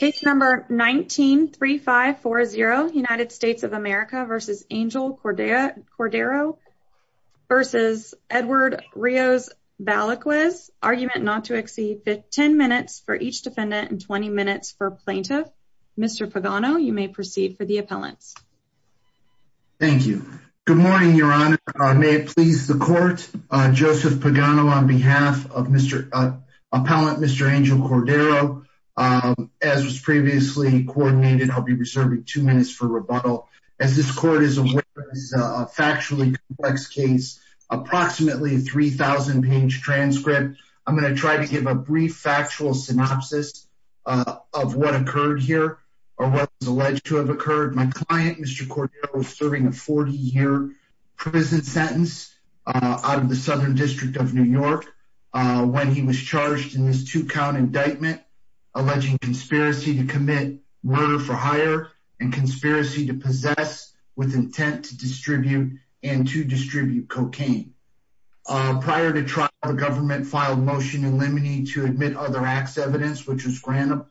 Case number 19-3540, United States of America v. Angel Cordero v. Edward Rios-Baliquez. Argument not to exceed 10 minutes for each defendant and 20 minutes for plaintiff. Mr. Pagano, you may proceed for the appellants. Thank you. Good morning, Your Honor. May it please the Court, Joseph Pagano on behalf of Mr. Appellant, Mr. Angel Cordero. As was previously coordinated, I'll be reserving two minutes for rebuttal. As this Court is aware, this is a factually complex case, approximately a 3,000-page transcript. I'm going to try to give a brief factual synopsis of what occurred here or what is alleged to have occurred. My client, Mr. Cordero, was serving a 40-year prison sentence out of the Southern District of New York when he was charged in this two-count indictment alleging conspiracy to commit murder for hire and conspiracy to possess with intent to distribute and to distribute cocaine. Prior to trial, the government filed motion eliminating to admit other acts evidence, which was granted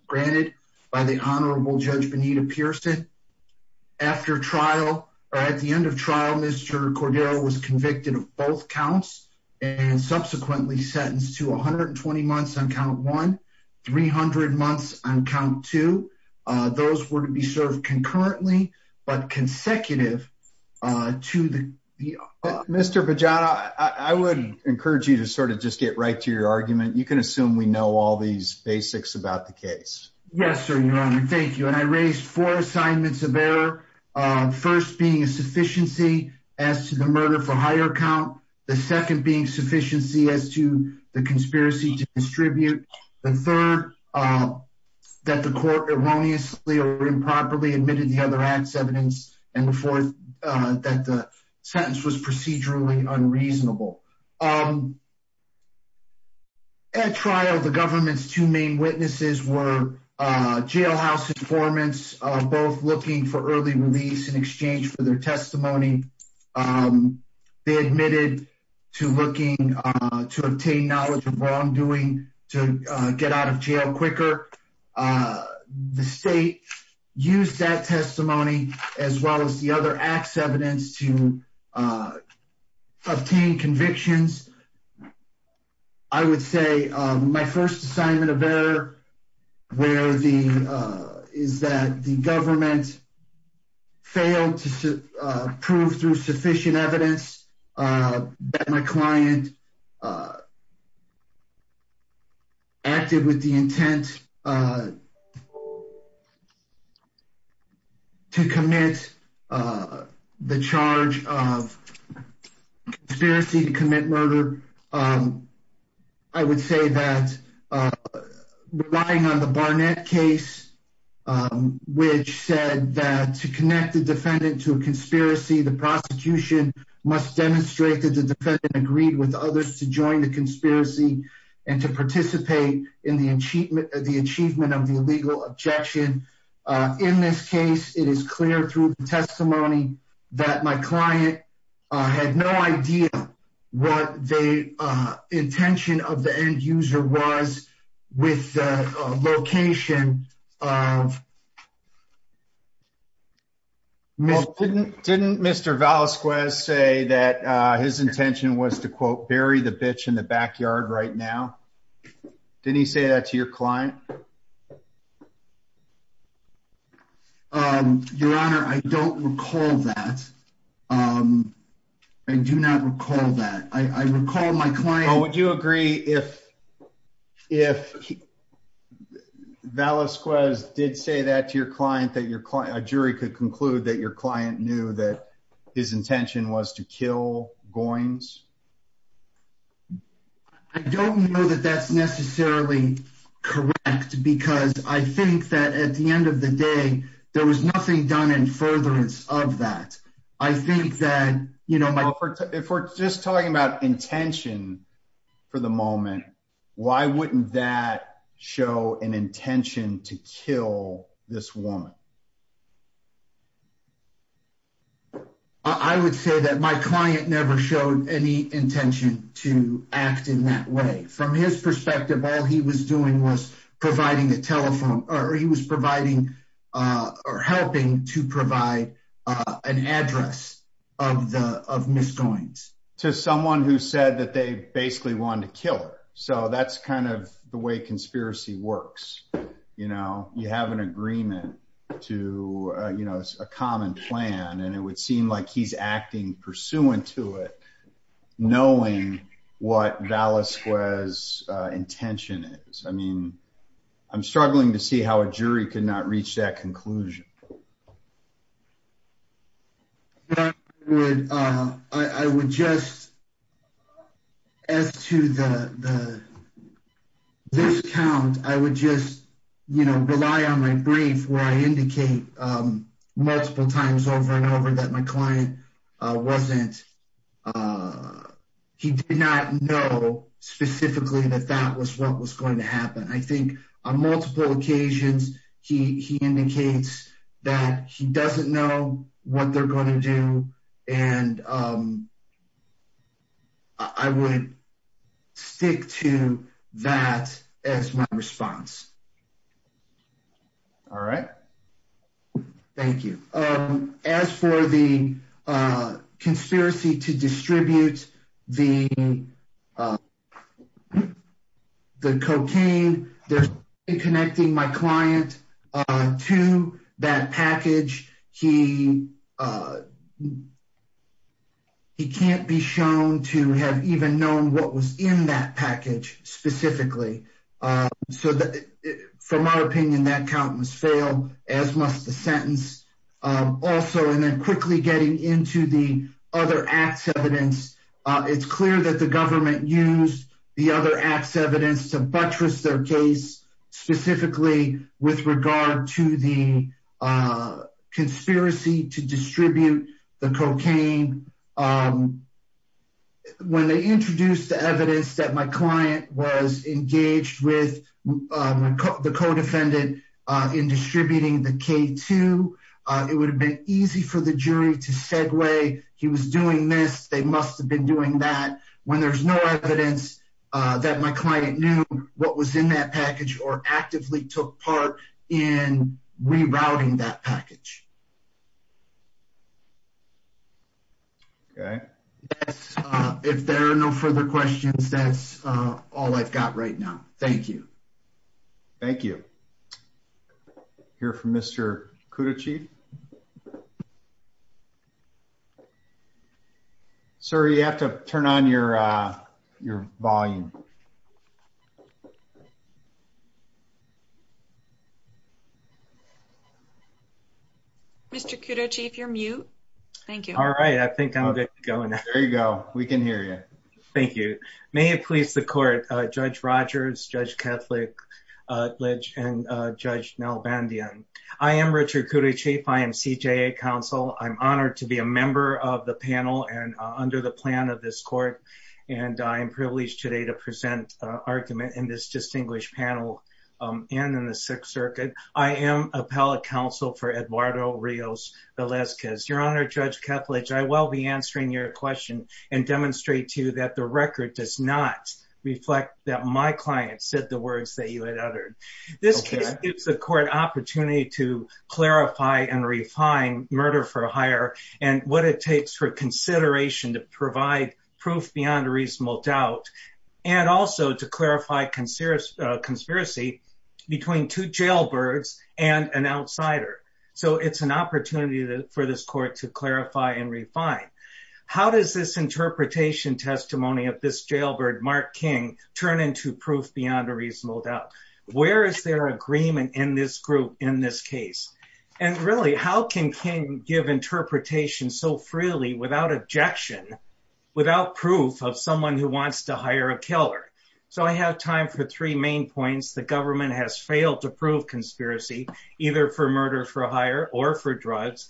by the Honorable Judge Benita Pearson. After trial, or at the end of trial, Mr. Cordero was convicted of both counts and subsequently sentenced to 120 months on count one, 300 months on count two. Those were to be served concurrently but consecutive to the... Mr. Pagano, I would encourage you to sort of just get right to your argument. You can assume we know all these basics about the case. Yes, sir, Your Honor. Thank you. And I raised four assignments of error, first being a sufficiency as to the murder for hire count, the second being sufficiency as to the conspiracy to distribute, the third that the court erroneously or improperly admitted the other acts evidence, and the fourth that the sentence was procedurally unreasonable. At trial, the government's two main witnesses were jailhouse informants, both looking for early release in exchange for their testimony. They admitted to looking to obtain knowledge of wrongdoing to get out of jail quicker. The state used that testimony as well as the other acts evidence to obtain convictions. I would say my first assignment of error is that the government failed to prove through sufficient evidence that my client acted with the intent to commit the charge of conspiracy to commit murder. I would say that relying on the Barnett case, which said that to connect the defendant to a conspiracy, the prosecution must demonstrate that the defendant agreed with others to join the conspiracy and to participate in the achievement of the illegal objection. In this case, it is clear through the testimony that my client had no idea what the intention of the end user was with the location of... Well, didn't Mr. Valasquez say that his intention was to quote, bury the bitch in the backyard right now? Didn't he say that to your client? Your Honor, I don't recall that. I do not recall that. I recall my client... Valasquez did say that to your client, that a jury could conclude that your client knew that his intention was to kill Goines? I don't know that that's necessarily correct because I think that at the end of the day, there was nothing done in furtherance of that. I think that, you know... If we're just talking about intention for the moment, why wouldn't that show an intention to kill this woman? I would say that my client never showed any intention to act in that way. From his perspective, all he was doing was providing a telephone... He was providing or helping to provide an address of Ms. Goines. To someone who said that they basically wanted to kill her. So that's kind of the way conspiracy works. You know, you have an agreement to a common plan and it would seem like he's acting pursuant to it, knowing what Valasquez's intention is. I mean, I'm struggling to see how a jury could not reach that conclusion. I would just... As to the discount, I would just, you know, rely on my brief where I indicate multiple times over and over that my client wasn't... He did not know specifically that that was what was going to happen. I think on multiple occasions, he indicates that he doesn't know what they're going to do. And I would stick to that as my response. All right. Thank you. As for the conspiracy to distribute the cocaine, there's... In connecting my client to that package, he can't be shown to have even known what was in that package specifically. So from our opinion, that count must fail, as must the sentence. Also, and then quickly getting into the other acts evidence, it's clear that the government used the other acts evidence to buttress their case, specifically with regard to the conspiracy to distribute the cocaine. When they introduced the evidence that my client was engaged with the co-defendant in distributing the K2, it would have been easy for the jury to segue. He was doing this. They must have been doing that. When there's no evidence that my client knew what was in that package or actively took part in rerouting that package. Okay. If there are no further questions, that's all I've got right now. Thank you. Thank you. Hear from Mr. Kudochieff. Sir, you have to turn on your volume. Mr. Kudochieff, you're mute. Thank you. All right. I think I'm good to go now. There you go. We can hear you. Thank you. Good afternoon. May it please the court. Judge Rogers, Judge Ketledge, and Judge Nell Bandyan. I am Richard Kudochieff. I am CJA counsel. I'm honored to be a member of the panel and under the plan of this court. And I am privileged today to present argument in this distinguished panel and in the sixth circuit. I am appellate counsel for Eduardo Rios Velasquez. Your Honor, Judge Ketledge, I will be answering your question and demonstrate to you that the record does not reflect that my client said the words that you had uttered. This case gives the court an opportunity to clarify and refine murder for hire and what it takes for consideration to provide proof beyond a reasonable doubt and also to clarify conspiracy between two jailbirds and an outsider. So it's an opportunity for this court to clarify and refine. How does this interpretation testimony of this jailbird, Mark King, turn into proof beyond a reasonable doubt? Where is there agreement in this group in this case? And really, how can King give interpretation so freely without objection, without proof of someone who wants to hire a killer? So I have time for three main points. The government has failed to prove conspiracy, either for murder for hire or for drugs.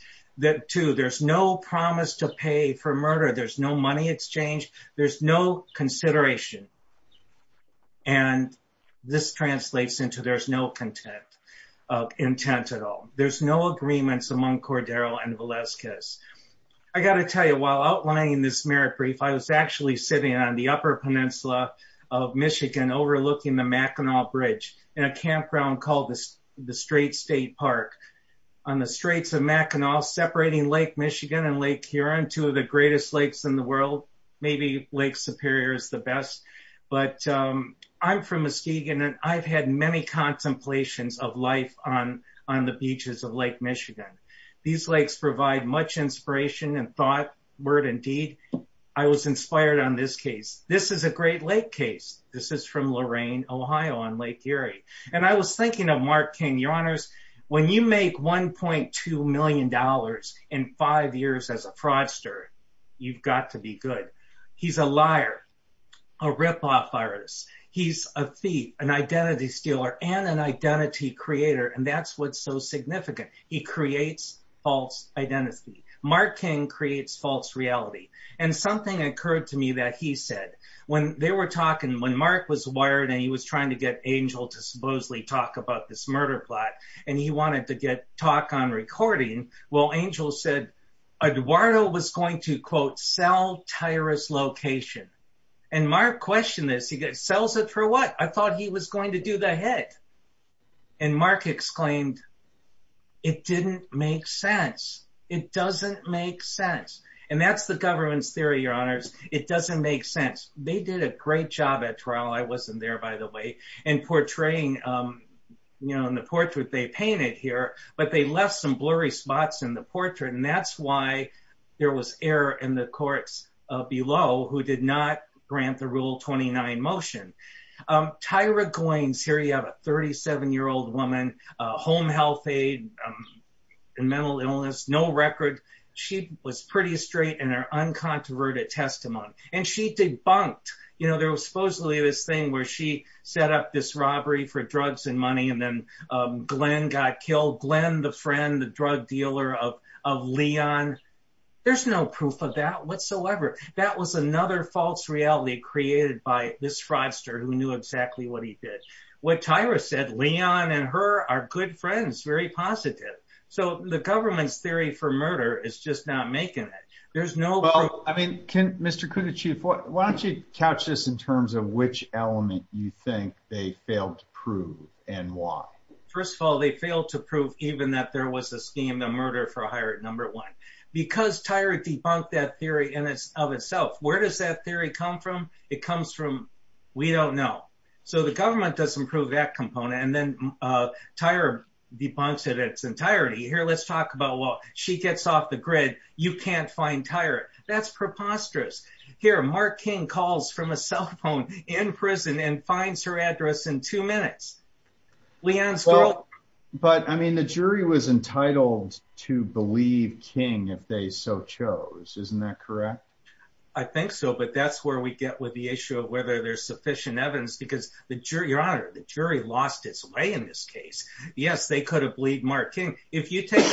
Two, there's no promise to pay for murder. There's no money exchange. There's no consideration. And this translates into there's no intent at all. There's no agreements among Cordero and Velasquez. I got to tell you, while outlining this merit brief, I was actually sitting on the upper peninsula of Michigan overlooking the Mackinac Bridge in a campground called the Strait State Park. On the Straits of Mackinac, separating Lake Michigan and Lake Huron, two of the greatest lakes in the world, maybe Lake Superior is the best. But I'm from Muskegon, and I've had many contemplations of life on the beaches of Lake Michigan. These lakes provide much inspiration and thought, word, and deed. I was inspired on this case. This is a Great Lake case. This is from Lorain, Ohio, on Lake Erie. And I was thinking of Mark King, Your Honors. When you make $1.2 million in five years as a fraudster, you've got to be good. He's a liar, a ripoff artist. He's a thief, an identity stealer, and an identity creator, and that's what's so significant. He creates false identity. Mark King creates false reality. And something occurred to me that he said. When they were talking, when Mark was wired and he was trying to get Angel to supposedly talk about this murder plot, and he wanted to get talk on recording, well, Angel said, Eduardo was going to, quote, sell Tyra's location. And Mark questioned this. He goes, sells it for what? I thought he was going to do the head. And Mark exclaimed, it didn't make sense. It doesn't make sense. And that's the government's theory, Your Honors. It doesn't make sense. They did a great job at trial. I wasn't there, by the way, in portraying, you know, in the portrait they painted here. But they left some blurry spots in the portrait. And that's why there was error in the courts below who did not grant the Rule 29 motion. Tyra Goines, here you have a 37-year-old woman, home health aide, mental illness, no record. She was pretty straight in her uncontroverted testimony. And she debunked, you know, there was supposedly this thing where she set up this robbery for drugs and money, and then Glenn got killed. Glenn, the friend, the drug dealer of Leon. There's no proof of that whatsoever. That was another false reality created by this fraudster who knew exactly what he did. What Tyra said, Leon and her are good friends, very positive. So the government's theory for murder is just not making it. There's no proof. Well, I mean, Mr. Coonerty, why don't you couch this in terms of which element you think they failed to prove and why? First of all, they failed to prove even that there was a scheme to murder for a hire at number one. Because Tyra debunked that theory of itself. Where does that theory come from? It comes from we don't know. So the government doesn't prove that component. And then Tyra debunks it in its entirety. Here, let's talk about, well, she gets off the grid. You can't find Tyra. That's preposterous. Here, Mark King calls from a cell phone in prison and finds her address in two minutes. But, I mean, the jury was entitled to believe King if they so chose. Isn't that correct? I think so. But that's where we get with the issue of whether there's sufficient evidence. Because, Your Honor, the jury lost its way in this case. Yes, they could have believed Mark King. If you take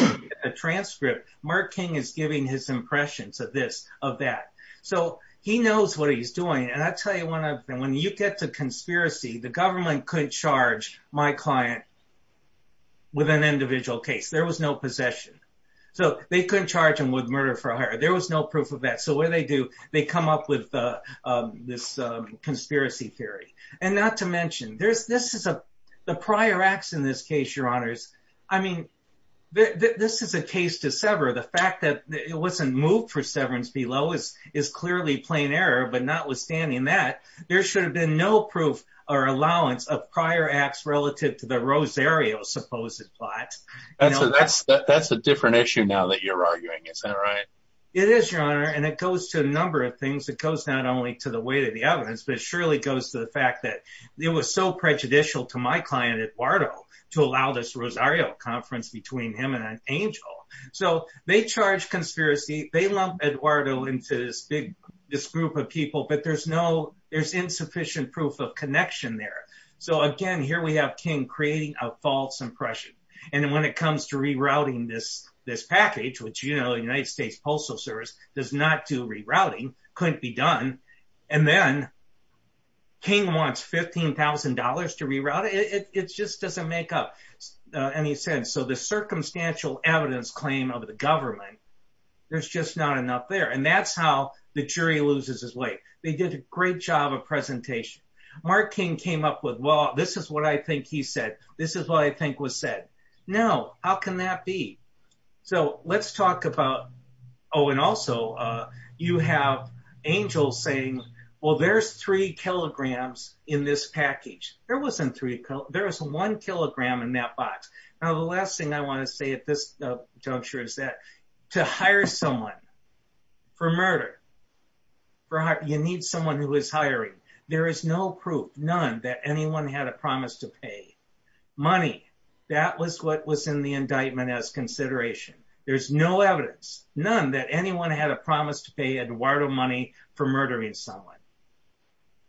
a transcript, Mark King is giving his impressions of this, of that. So he knows what he's doing. And I'll tell you one other thing. When you get to conspiracy, the government couldn't charge my client with an individual case. There was no possession. So they couldn't charge him with murder for hire. There was no proof of that. So what do they do? They come up with this conspiracy theory. And not to mention, the prior acts in this case, Your Honors, I mean, this is a case to sever. The fact that it wasn't moved for severance below is clearly plain error. But notwithstanding that, there should have been no proof or allowance of prior acts relative to the Rosario supposed plot. That's a different issue now that you're arguing. Is that right? It is, Your Honor. And it goes to a number of things. It goes not only to the weight of the evidence, but it surely goes to the fact that it was so prejudicial to my client, Eduardo, to allow this Rosario conference between him and an angel. So they charge conspiracy. They lump Eduardo into this group of people. But there's insufficient proof of connection there. So, again, here we have King creating a false impression. And when it comes to rerouting this package, which, you know, the United States Postal Service does not do rerouting, couldn't be done. And then King wants $15,000 to reroute it. It just doesn't make up any sense. So the circumstantial evidence claim of the government, there's just not enough there. And that's how the jury loses its weight. They did a great job of presentation. Mark King came up with, well, this is what I think he said. This is what I think was said. No, how can that be? So let's talk about, oh, and also you have angels saying, well, there's three kilograms in this package. There wasn't three. There was one kilogram in that box. Now, the last thing I want to say at this juncture is that to hire someone for murder, you need someone who is hiring. There is no proof, none, that anyone had a promise to pay money. That was what was in the indictment as consideration. There's no evidence, none, that anyone had a promise to pay Eduardo money for murdering someone.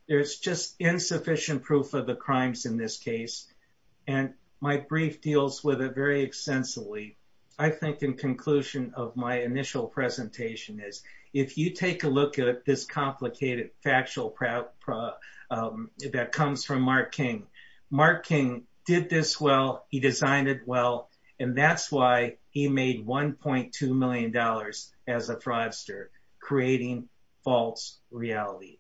There's just insufficient proof of the crimes in this case. And my brief deals with it very extensively. I think in conclusion of my initial presentation is if you take a look at this complicated factual that comes from Mark King. Mark King did this well. He designed it well. And that's why he made $1.2 million as a thrivester, creating false reality.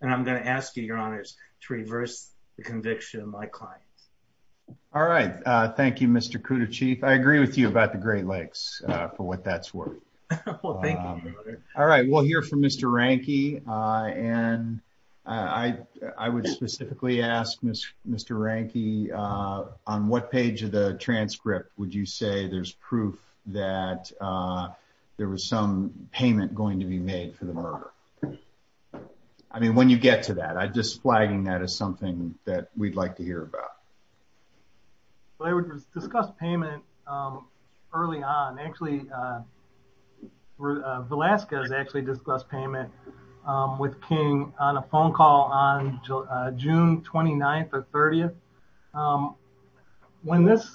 And I'm going to ask you, Your Honors, to reverse the conviction of my client. All right. Thank you, Mr. Cuda Chief. I agree with you about the Great Lakes for what that's worth. Well, thank you, Your Honor. All right. We'll hear from Mr. Ranke. And I would specifically ask, Mr. Ranke, on what page of the transcript would you say there's proof that there was some payment going to be made for the murder? I mean, when you get to that. I'm just flagging that as something that we'd like to hear about. Well, I would discuss payment early on. Actually, Velasquez actually discussed payment with King on a phone call on June 29th or 30th. When this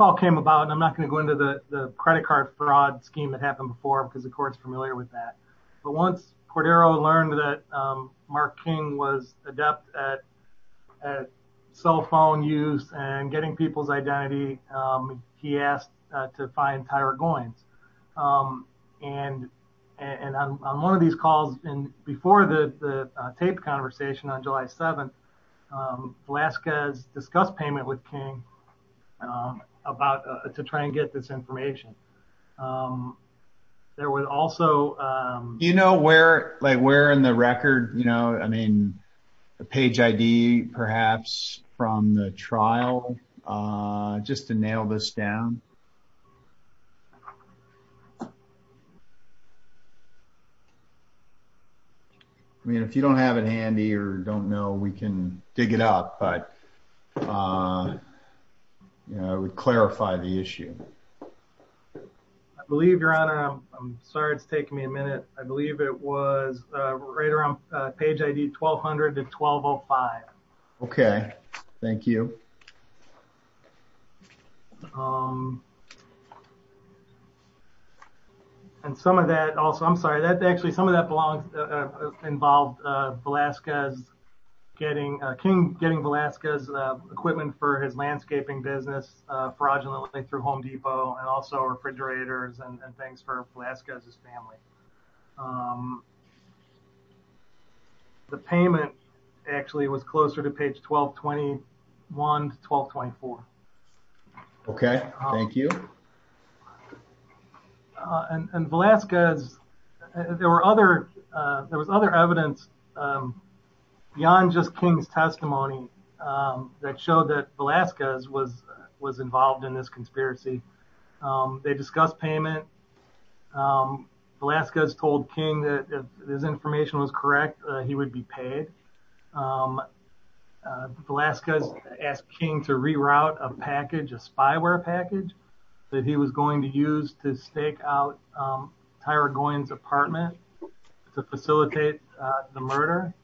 all came about, and I'm not going to go into the credit card fraud scheme that happened before because the court's familiar with that. But once Cordero learned that Mark King was adept at cell phone use and getting people's identity, he asked to find Tyra Goines. And on one of these calls before the tape conversation on July 7th, Velasquez discussed payment with King to try and get this information. There was also... Do you know where in the record, I mean, the page ID perhaps from the trial, just to nail this down? I mean, if you don't have it handy or don't know, we can dig it up. But I would clarify the issue. I believe, Your Honor, I'm sorry it's taking me a minute. I believe it was right around page ID 1200 to 1205. Okay, thank you. And some of that also, I'm sorry, actually some of that involved King getting Velasquez's equipment for his landscaping business fraudulently through Home Depot and also refrigerators and things for Velasquez's family. The payment actually was closer to page 1221 to 1224. Okay, thank you. And Velasquez, there was other evidence beyond just King's testimony that showed that Velasquez was involved in this conspiracy. They discussed payment. Velasquez told King that if this information was correct, he would be paid. Velasquez asked King to reroute a package, a spyware package, that he was going to use to stake out Tyra Goyen's apartment to facilitate the murder.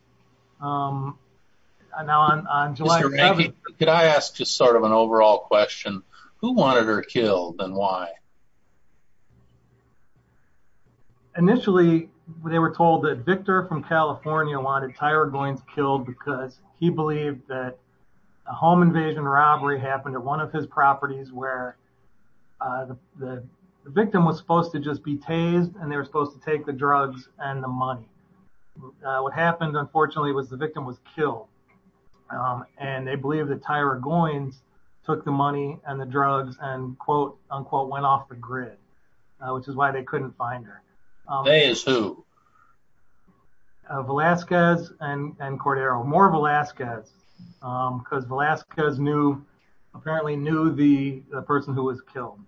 Could I ask just sort of an overall question? Who wanted her killed and why? Initially, they were told that Victor from California wanted Tyra Goyen's killed because he believed that a home invasion robbery happened at one of his properties where the victim was supposed to just be tased and they were supposed to take the drugs and the money. What happened, unfortunately, was the victim was killed and they believed that Tyra Goyen took the money and the drugs and quote-unquote went off the grid, which is why they couldn't find her. They is who? Velasquez and Cordero. More Velasquez because Velasquez apparently knew the person who was killed.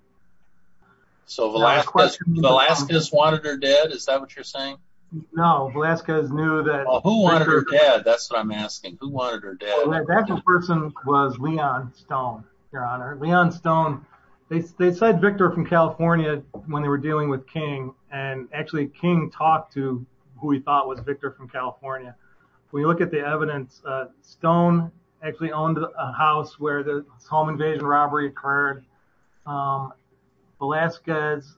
So Velasquez wanted her dead? Is that what you're saying? No, Velasquez knew that. Who wanted her dead? That's what I'm asking. Who wanted her dead? That person was Leon Stone, Your Honor. Leon Stone. They said Victor from California when they were dealing with King and actually King talked to who he thought was Victor from California. We look at the evidence. Stone actually owned a house where the home invasion robbery occurred. Velasquez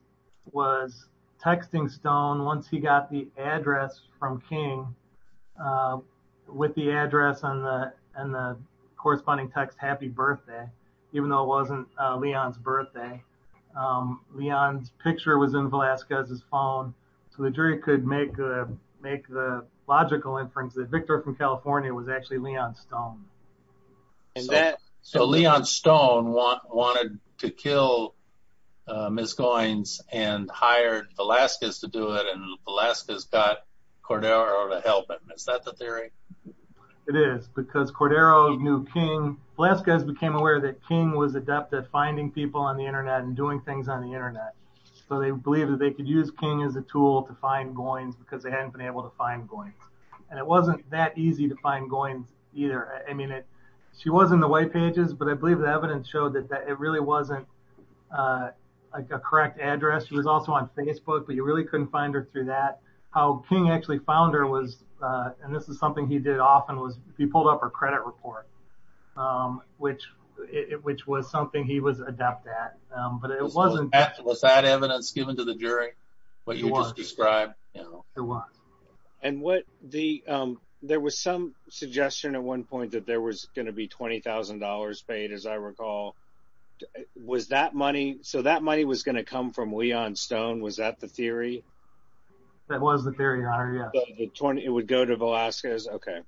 was texting Stone once he got the address from King with the address on the corresponding text, happy birthday, even though it wasn't Leon's birthday. Leon's picture was in Velasquez's phone so the jury could make the logical inference that Victor from California was actually Leon Stone. So Leon Stone wanted to kill Ms. Goyen and hired Velasquez to do it and Velasquez got Cordero to help him. Is that the theory? It is because Cordero knew King. Velasquez became aware that King was adept at finding people on the internet and doing things on the internet. So they believed that they could use King as a tool to find Goyen because they hadn't been able to find Goyen. And it wasn't that easy to find Goyen either. She was in the white pages, but I believe the evidence showed that it really wasn't a correct address. She was also on Facebook, but you really couldn't find her through that. How King actually found her was, and this is something he did often, he pulled up her credit report, which was something he was adept at. Was that evidence given to the jury? It was. What you just described? It was. There was some suggestion at one point that there was going to be $20,000 paid, as I recall. So that money was going to come from Leon Stone? Was that the theory? That was the theory, your honor, yes. It would go to Velasquez? Okay.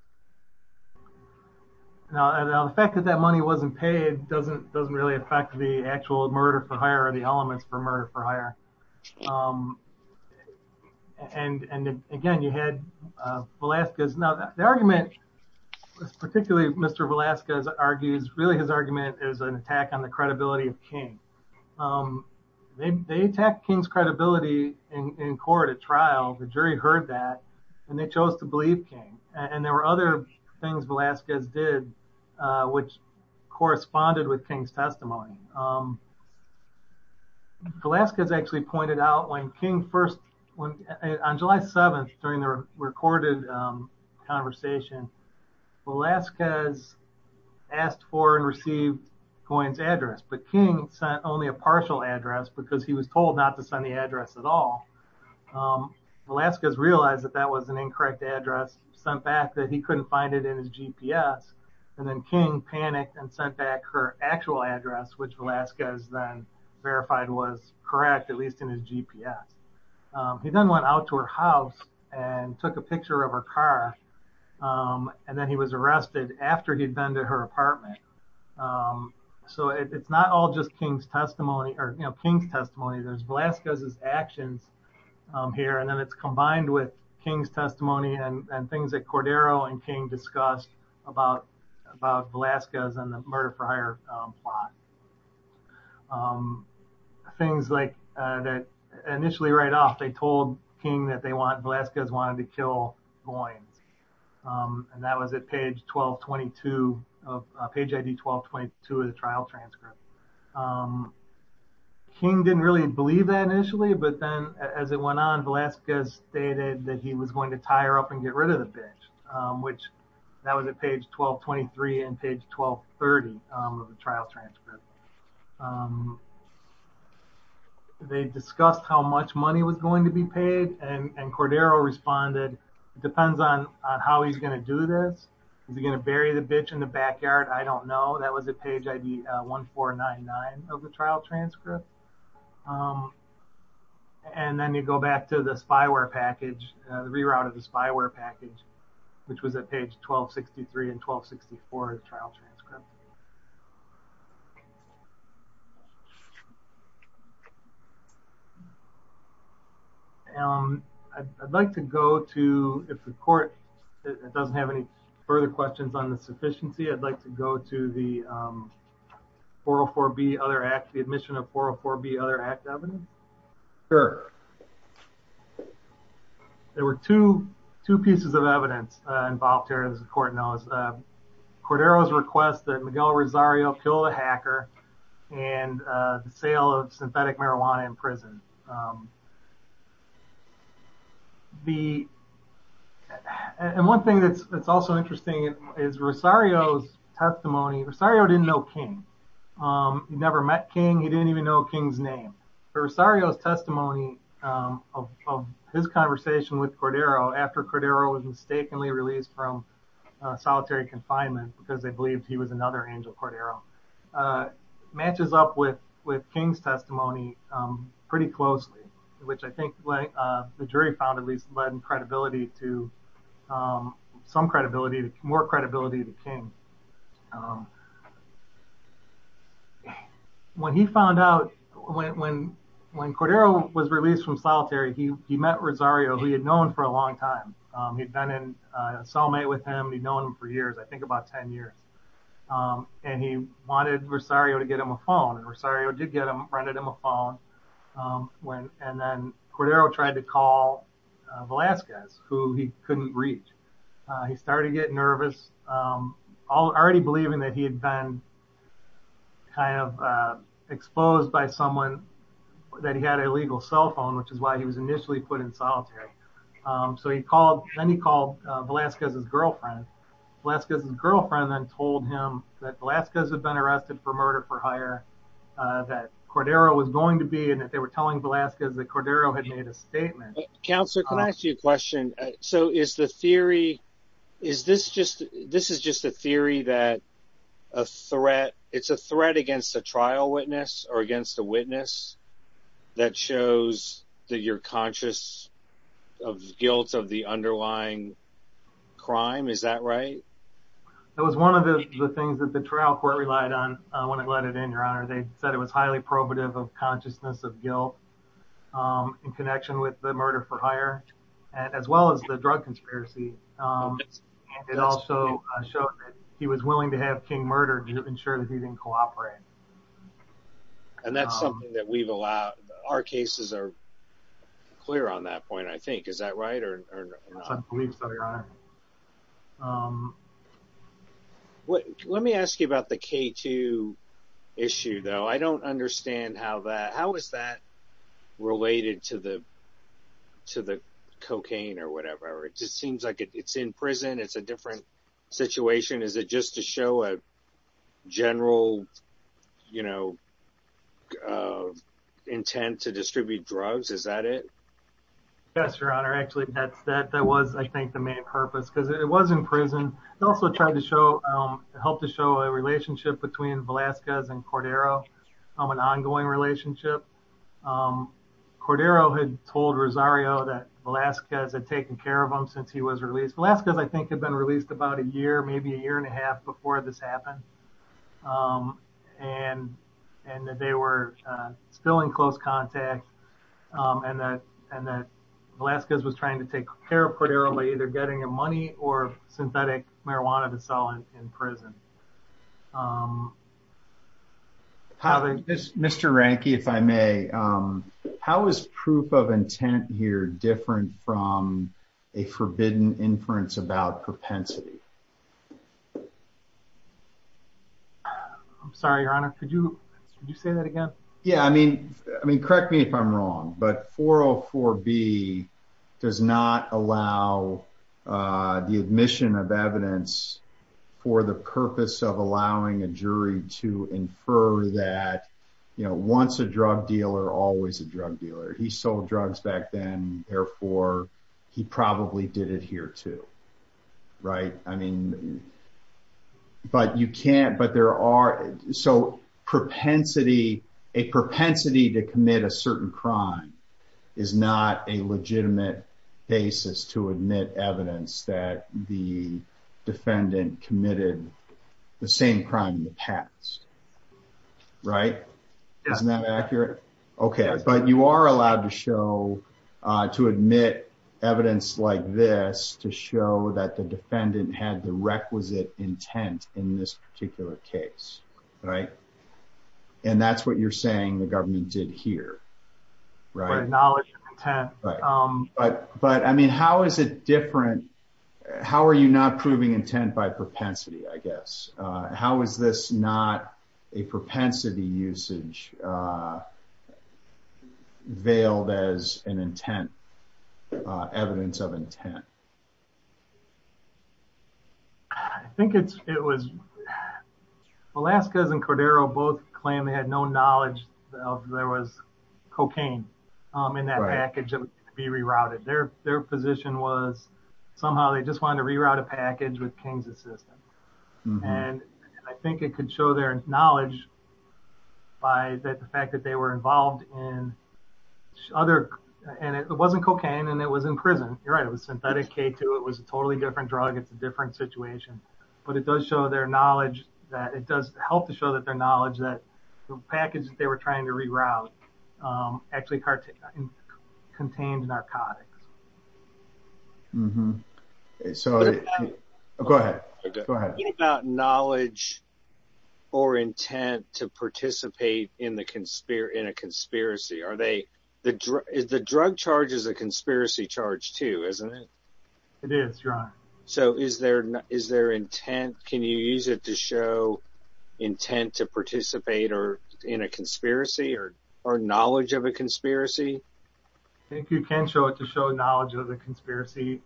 The fact that that money wasn't paid doesn't really affect the actual murder for hire or the elements for murder for hire. And again, you had Velasquez. Now, the argument, particularly Mr. Velasquez argues, really his argument is an attack on the credibility of King. They attacked King's credibility in court at trial, the jury heard that, and they chose to believe King. And there were other things Velasquez did, which corresponded with King's testimony. Velasquez actually pointed out when King first, on July 7th, during the recorded conversation, Velasquez asked for and received Coyne's address, but King sent only a partial address because he was told not to send the address at all. Velasquez realized that that was an incorrect address, sent back that he couldn't find it in his GPS, and then King panicked and sent back her actual address, which Velasquez then verified was correct, at least in his GPS. He then went out to her house and took a picture of her car, and then he was arrested after he'd been to her apartment. So it's not all just King's testimony, or King's testimony, there's Velasquez's actions here, and then it's combined with King's testimony and things that Cordero and King discussed about Velasquez and the murder for hire plot. Things like, initially right off, they told King that Velasquez wanted to kill Coyne, and that was at page 1222, page ID 1222 of the trial transcript. King didn't really believe that initially, but then as it went on, Velasquez stated that he was going to tie her up and get rid of the bitch, which that was at page 1223 and page 1230 of the trial transcript. They discussed how much money was going to be paid, and Cordero responded, it depends on how he's going to do this. Is he going to bury the bitch in the backyard? I don't know. That was at page ID 1499 of the trial transcript. And then you go back to the spyware package, the reroute of the spyware package, which was at page 1263 and 1264 of the trial transcript. I'd like to go to, if the court doesn't have any further questions on the sufficiency, I'd like to go to the 404B Other Act, the admission of 404B Other Act evidence. Sure. There were two pieces of evidence involved here, as the court knows. Cordero's request that Miguel Rosario kill the hacker and the sale of synthetic marijuana in prison. And one thing that's also interesting is Rosario's testimony. Rosario didn't know King. He never met King. He didn't even know King's name. Rosario's testimony of his conversation with Cordero after Cordero was mistakenly released from solitary confinement because they believed he was another Angel Cordero, matches up with King's testimony pretty closely, which I think the jury found at least led in credibility to some credibility, more credibility to King. When he found out, when Cordero was released from solitary, he met Rosario, who he had known for a long time. He'd been in a cellmate with him. He'd known him for years, I think about 10 years, and he wanted Rosario to get him a phone. Rosario did get him, rented him a phone, and then Cordero tried to call Velazquez, who he couldn't reach. He started getting nervous, already believing that he had been kind of exposed by someone, that he had a legal cell phone, which is why he was initially put in solitary. Then he called Velazquez's girlfriend. Velazquez's girlfriend then told him that Velazquez had been arrested for murder for hire, that Cordero was going to be, and that they were telling Velazquez that Cordero had made a statement. Counselor, can I ask you a question? So is the theory, is this just, this is just a theory that a threat, it's a threat against a trial witness or against a witness that shows that you're conscious of guilt of the underlying crime, is that right? That was one of the things that the trial court relied on when it let it in, Your Honor. They said it was highly probative of consciousness of guilt in connection with the murder for hire, as well as the drug conspiracy. It also showed that he was willing to have King murdered to ensure that he didn't cooperate. And that's something that we've allowed, our cases are clear on that point, I think, is that right? I believe so, Your Honor. Let me ask you about the K2 issue, though. I don't understand how that, how is that related to the cocaine or whatever? It just seems like it's in prison, it's a different situation. Is it just to show a general, you know, intent to distribute drugs, is that it? Yes, Your Honor. Actually, that's that, that was, I think, the main purpose, because it was in prison. It also tried to show, helped to show a relationship between Velazquez and Cordero, an ongoing relationship. Cordero had told Rosario that Velazquez had taken care of him since he was released. Velazquez, I think, had been released about a year, maybe a year and a half before this happened. And that they were still in close contact and that Velazquez was trying to take care of Cordero by either getting him money or synthetic marijuana to sell in prison. Mr. Ranke, if I may, how is proof of intent here different from a forbidden inference about propensity? I'm sorry, Your Honor. Could you say that again? Yeah, I mean, I mean, correct me if I'm wrong, but 404B does not allow the admission of evidence for the purpose of allowing a jury to infer that, you know, once a drug dealer, always a drug dealer. He sold drugs back then, therefore, he probably did it here too. Right. I mean, but you can't, but there are, so propensity, a propensity to commit a certain crime is not a legitimate basis to admit evidence that the defendant committed the same crime in the past. Right? Isn't that accurate? Okay. But you are allowed to show, to admit evidence like this to show that the defendant had the requisite intent in this particular case. Right. And that's what you're saying the government did here. Right. But, but I mean, how is it different? How are you not proving intent by propensity, I guess? How is this not a propensity usage veiled as an intent, evidence of intent? I think it's, it was Velasquez and Cordero both claim they had no knowledge of there was cocaine in that package that would be rerouted. Their, their position was somehow they just wanted to reroute a package with King's assistant. And I think it could show their knowledge by the fact that they were involved in other, and it wasn't cocaine and it was in prison. You're right. It was synthetic K2. It was a totally different drug. It's a different situation, but it does show their knowledge that it does help to show that their knowledge that the package that they were trying to reroute actually contained narcotics. Mm hmm. So go ahead, go ahead. What about knowledge or intent to participate in the conspire in a conspiracy? Are they, the drug is the drug charges, a conspiracy charge too, isn't it? It is. So is there, is there intent? Can you use it to show intent to participate or in a conspiracy or, or knowledge of a conspiracy? I think you can show it to show knowledge of the conspiracy.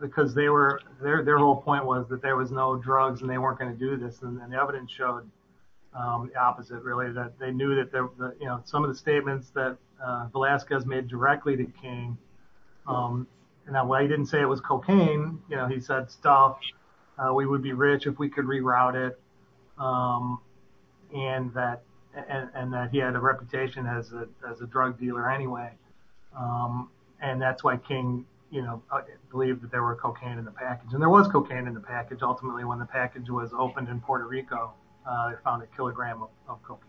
Because they were, their, their whole point was that there was no drugs and they weren't going to do this. And the evidence showed the opposite, really, that they knew that there were some of the statements that Velasquez made directly to King. And that while he didn't say it was cocaine, you know, he said, stop, we would be rich if we could reroute it. And that, and that he had a reputation as a, as a drug dealer anyway. And that's why King, you know, believed that there were cocaine in the package. And there was cocaine in the package. Ultimately, when the package was opened in Puerto Rico, they found a kilogram of cocaine.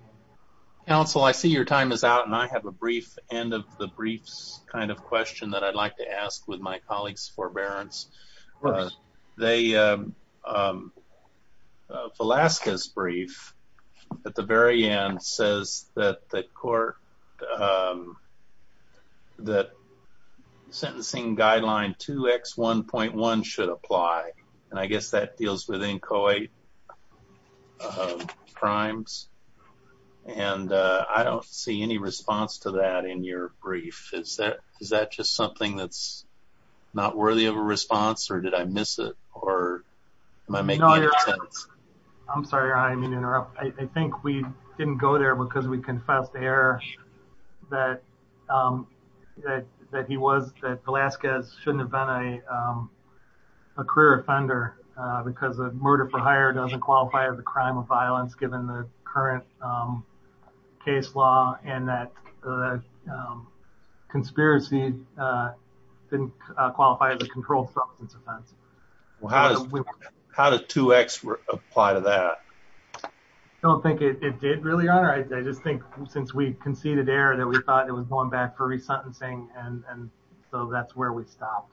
Council, I see your time is out. And I have a brief end of the briefs kind of question that I'd like to ask with my colleagues forbearance. They Velasquez brief at the very end says that the court that sentencing guideline 2x 1.1 should apply. And I guess that deals with inchoate crimes. And I don't see any response to that in your brief. Is that is that just something that's not worthy of a response? Or did I miss it? Or am I making sense? I'm sorry, I mean, interrupt. I think we didn't go there because we confessed the error that that he was that Velasquez shouldn't have been a career offender, because of murder for hire doesn't qualify as a crime of violence, given the current case law, and that conspiracy didn't qualify as a controlled substance offense. How did 2x apply to that? I don't think it did really. I just think since we conceded error that we thought it was going back for resentencing. And so that's where we stopped.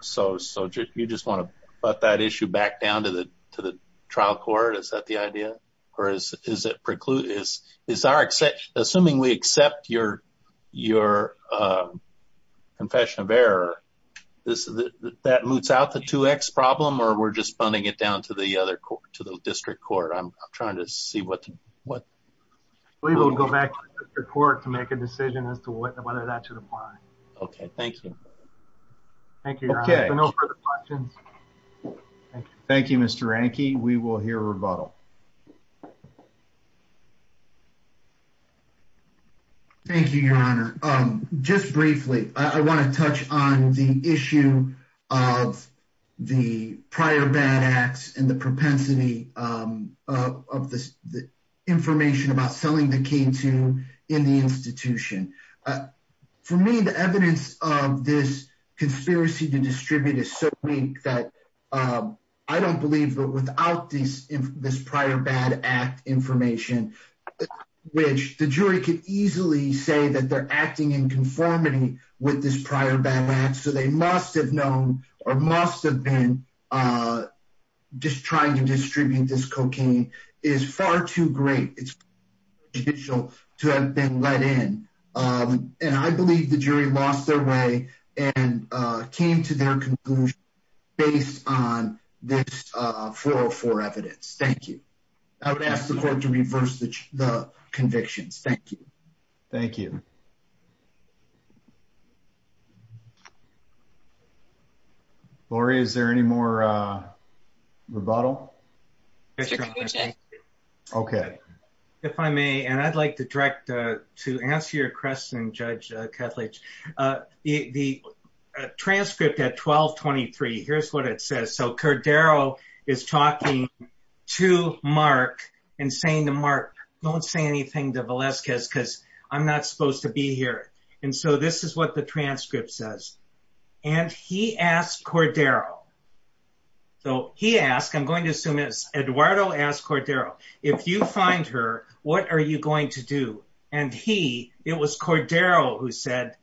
So so you just want to put that issue back down to the to the trial court? Is that the idea? Or is it preclude is is our except assuming we accept your, your confession of error. This is that moots out the 2x problem, or we're just funding it down to the other court to the district court. I'm trying to see what what we will go back to court to make a decision as to whether that should apply. Okay, thank you. Thank you. Okay, no further questions. Thank you, Mr Anki. We will hear rebuttal. Thank you, Your Honor. Just briefly, I want to touch on the issue of the prior bad acts and the propensity of the information about selling the cane to in the institution. For me, the evidence of this conspiracy to distribute is so weak that I don't believe without this prior bad act information, which the jury could easily say that they're acting in conformity with this prior bad acts. So they must have known or must have been just trying to distribute this cocaine is far too great. It's judicial to have been let in. And I believe the jury lost their way and came to their conclusion based on this for for evidence. Thank you. I would ask the court to reverse the convictions. Thank you. Thank you. Lori, is there any more rebuttal? Okay, if I may, and I'd like to direct to answer your question, Judge Ketledge. The transcript at 1223. Here's what it says. So Cordero is talking to Mark and saying to Mark, don't say anything to Velasquez because I'm not supposed to be here. And so this is what the transcript says. And he asked Cordero. So he asked, I'm going to assume it's Eduardo asked Cordero, if you find her, what are you going to do? And he it was Cordero who said,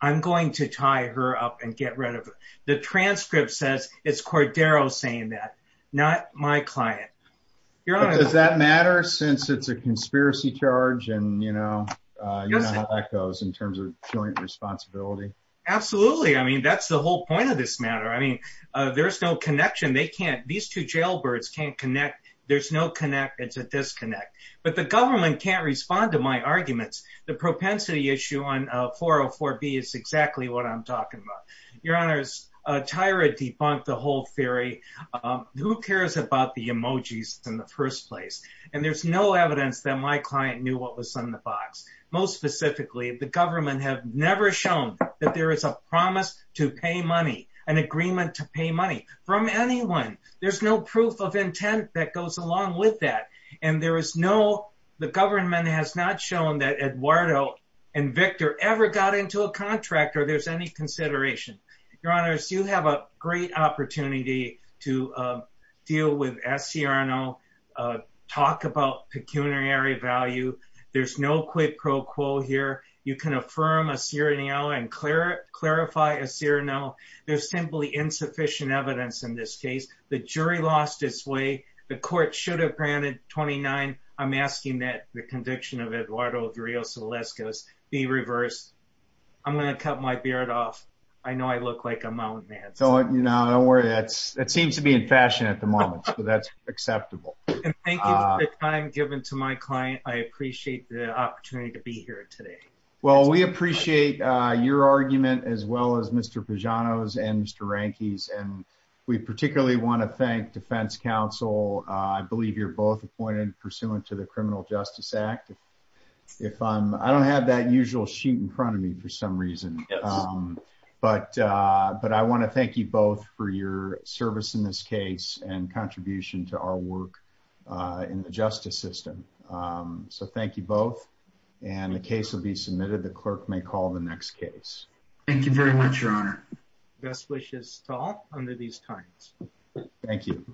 I'm going to tie her up and get rid of the transcript says it's Cordero saying that not my client. Does that matter since it's a conspiracy charge? And you know, in terms of joint responsibility? Absolutely. I mean, that's the whole point of this matter. I mean, there's no connection. They can't these two jailbirds can't connect. There's no connect. It's a disconnect. But the government can't respond to my arguments. The propensity issue on 404 B is exactly what I'm talking about. Tyra debunked the whole theory. Who cares about the emojis in the first place? And there's no evidence that my client knew what was in the box. Most specifically, the government have never shown that there is a promise to pay money, an agreement to pay money from anyone. There's no proof of intent that goes along with that. And there is no the government has not shown that Eduardo and Victor ever got into a contract or there's any consideration. Your Honor, so you have a great opportunity to deal with SCR and I'll talk about pecuniary value. There's no quid pro quo here. You can affirm a serial and clear clarify a serial. There's simply insufficient evidence in this case. The jury lost its way. The court should have granted 29. I'm asking that the conviction of Eduardo Dario Celeste goes the reverse. I'm going to cut my beard off. I know I look like a mountain man. So, you know, don't worry. That's it seems to be in fashion at the moment. So that's acceptable. Thank you for the time given to my client. I appreciate the opportunity to be here today. Well, we appreciate your argument as well as Mr. Pajano's and Mr. Ranky's. And we particularly want to thank defense counsel. I believe you're both appointed pursuant to the Criminal Justice Act. If I'm I don't have that usual sheet in front of me for some reason. But but I want to thank you both for your service in this case and contribution to our work in the justice system. So thank you both. And the case will be submitted. The clerk may call the next case. Thank you very much, Your Honor. Best wishes to all under these times. Thank you.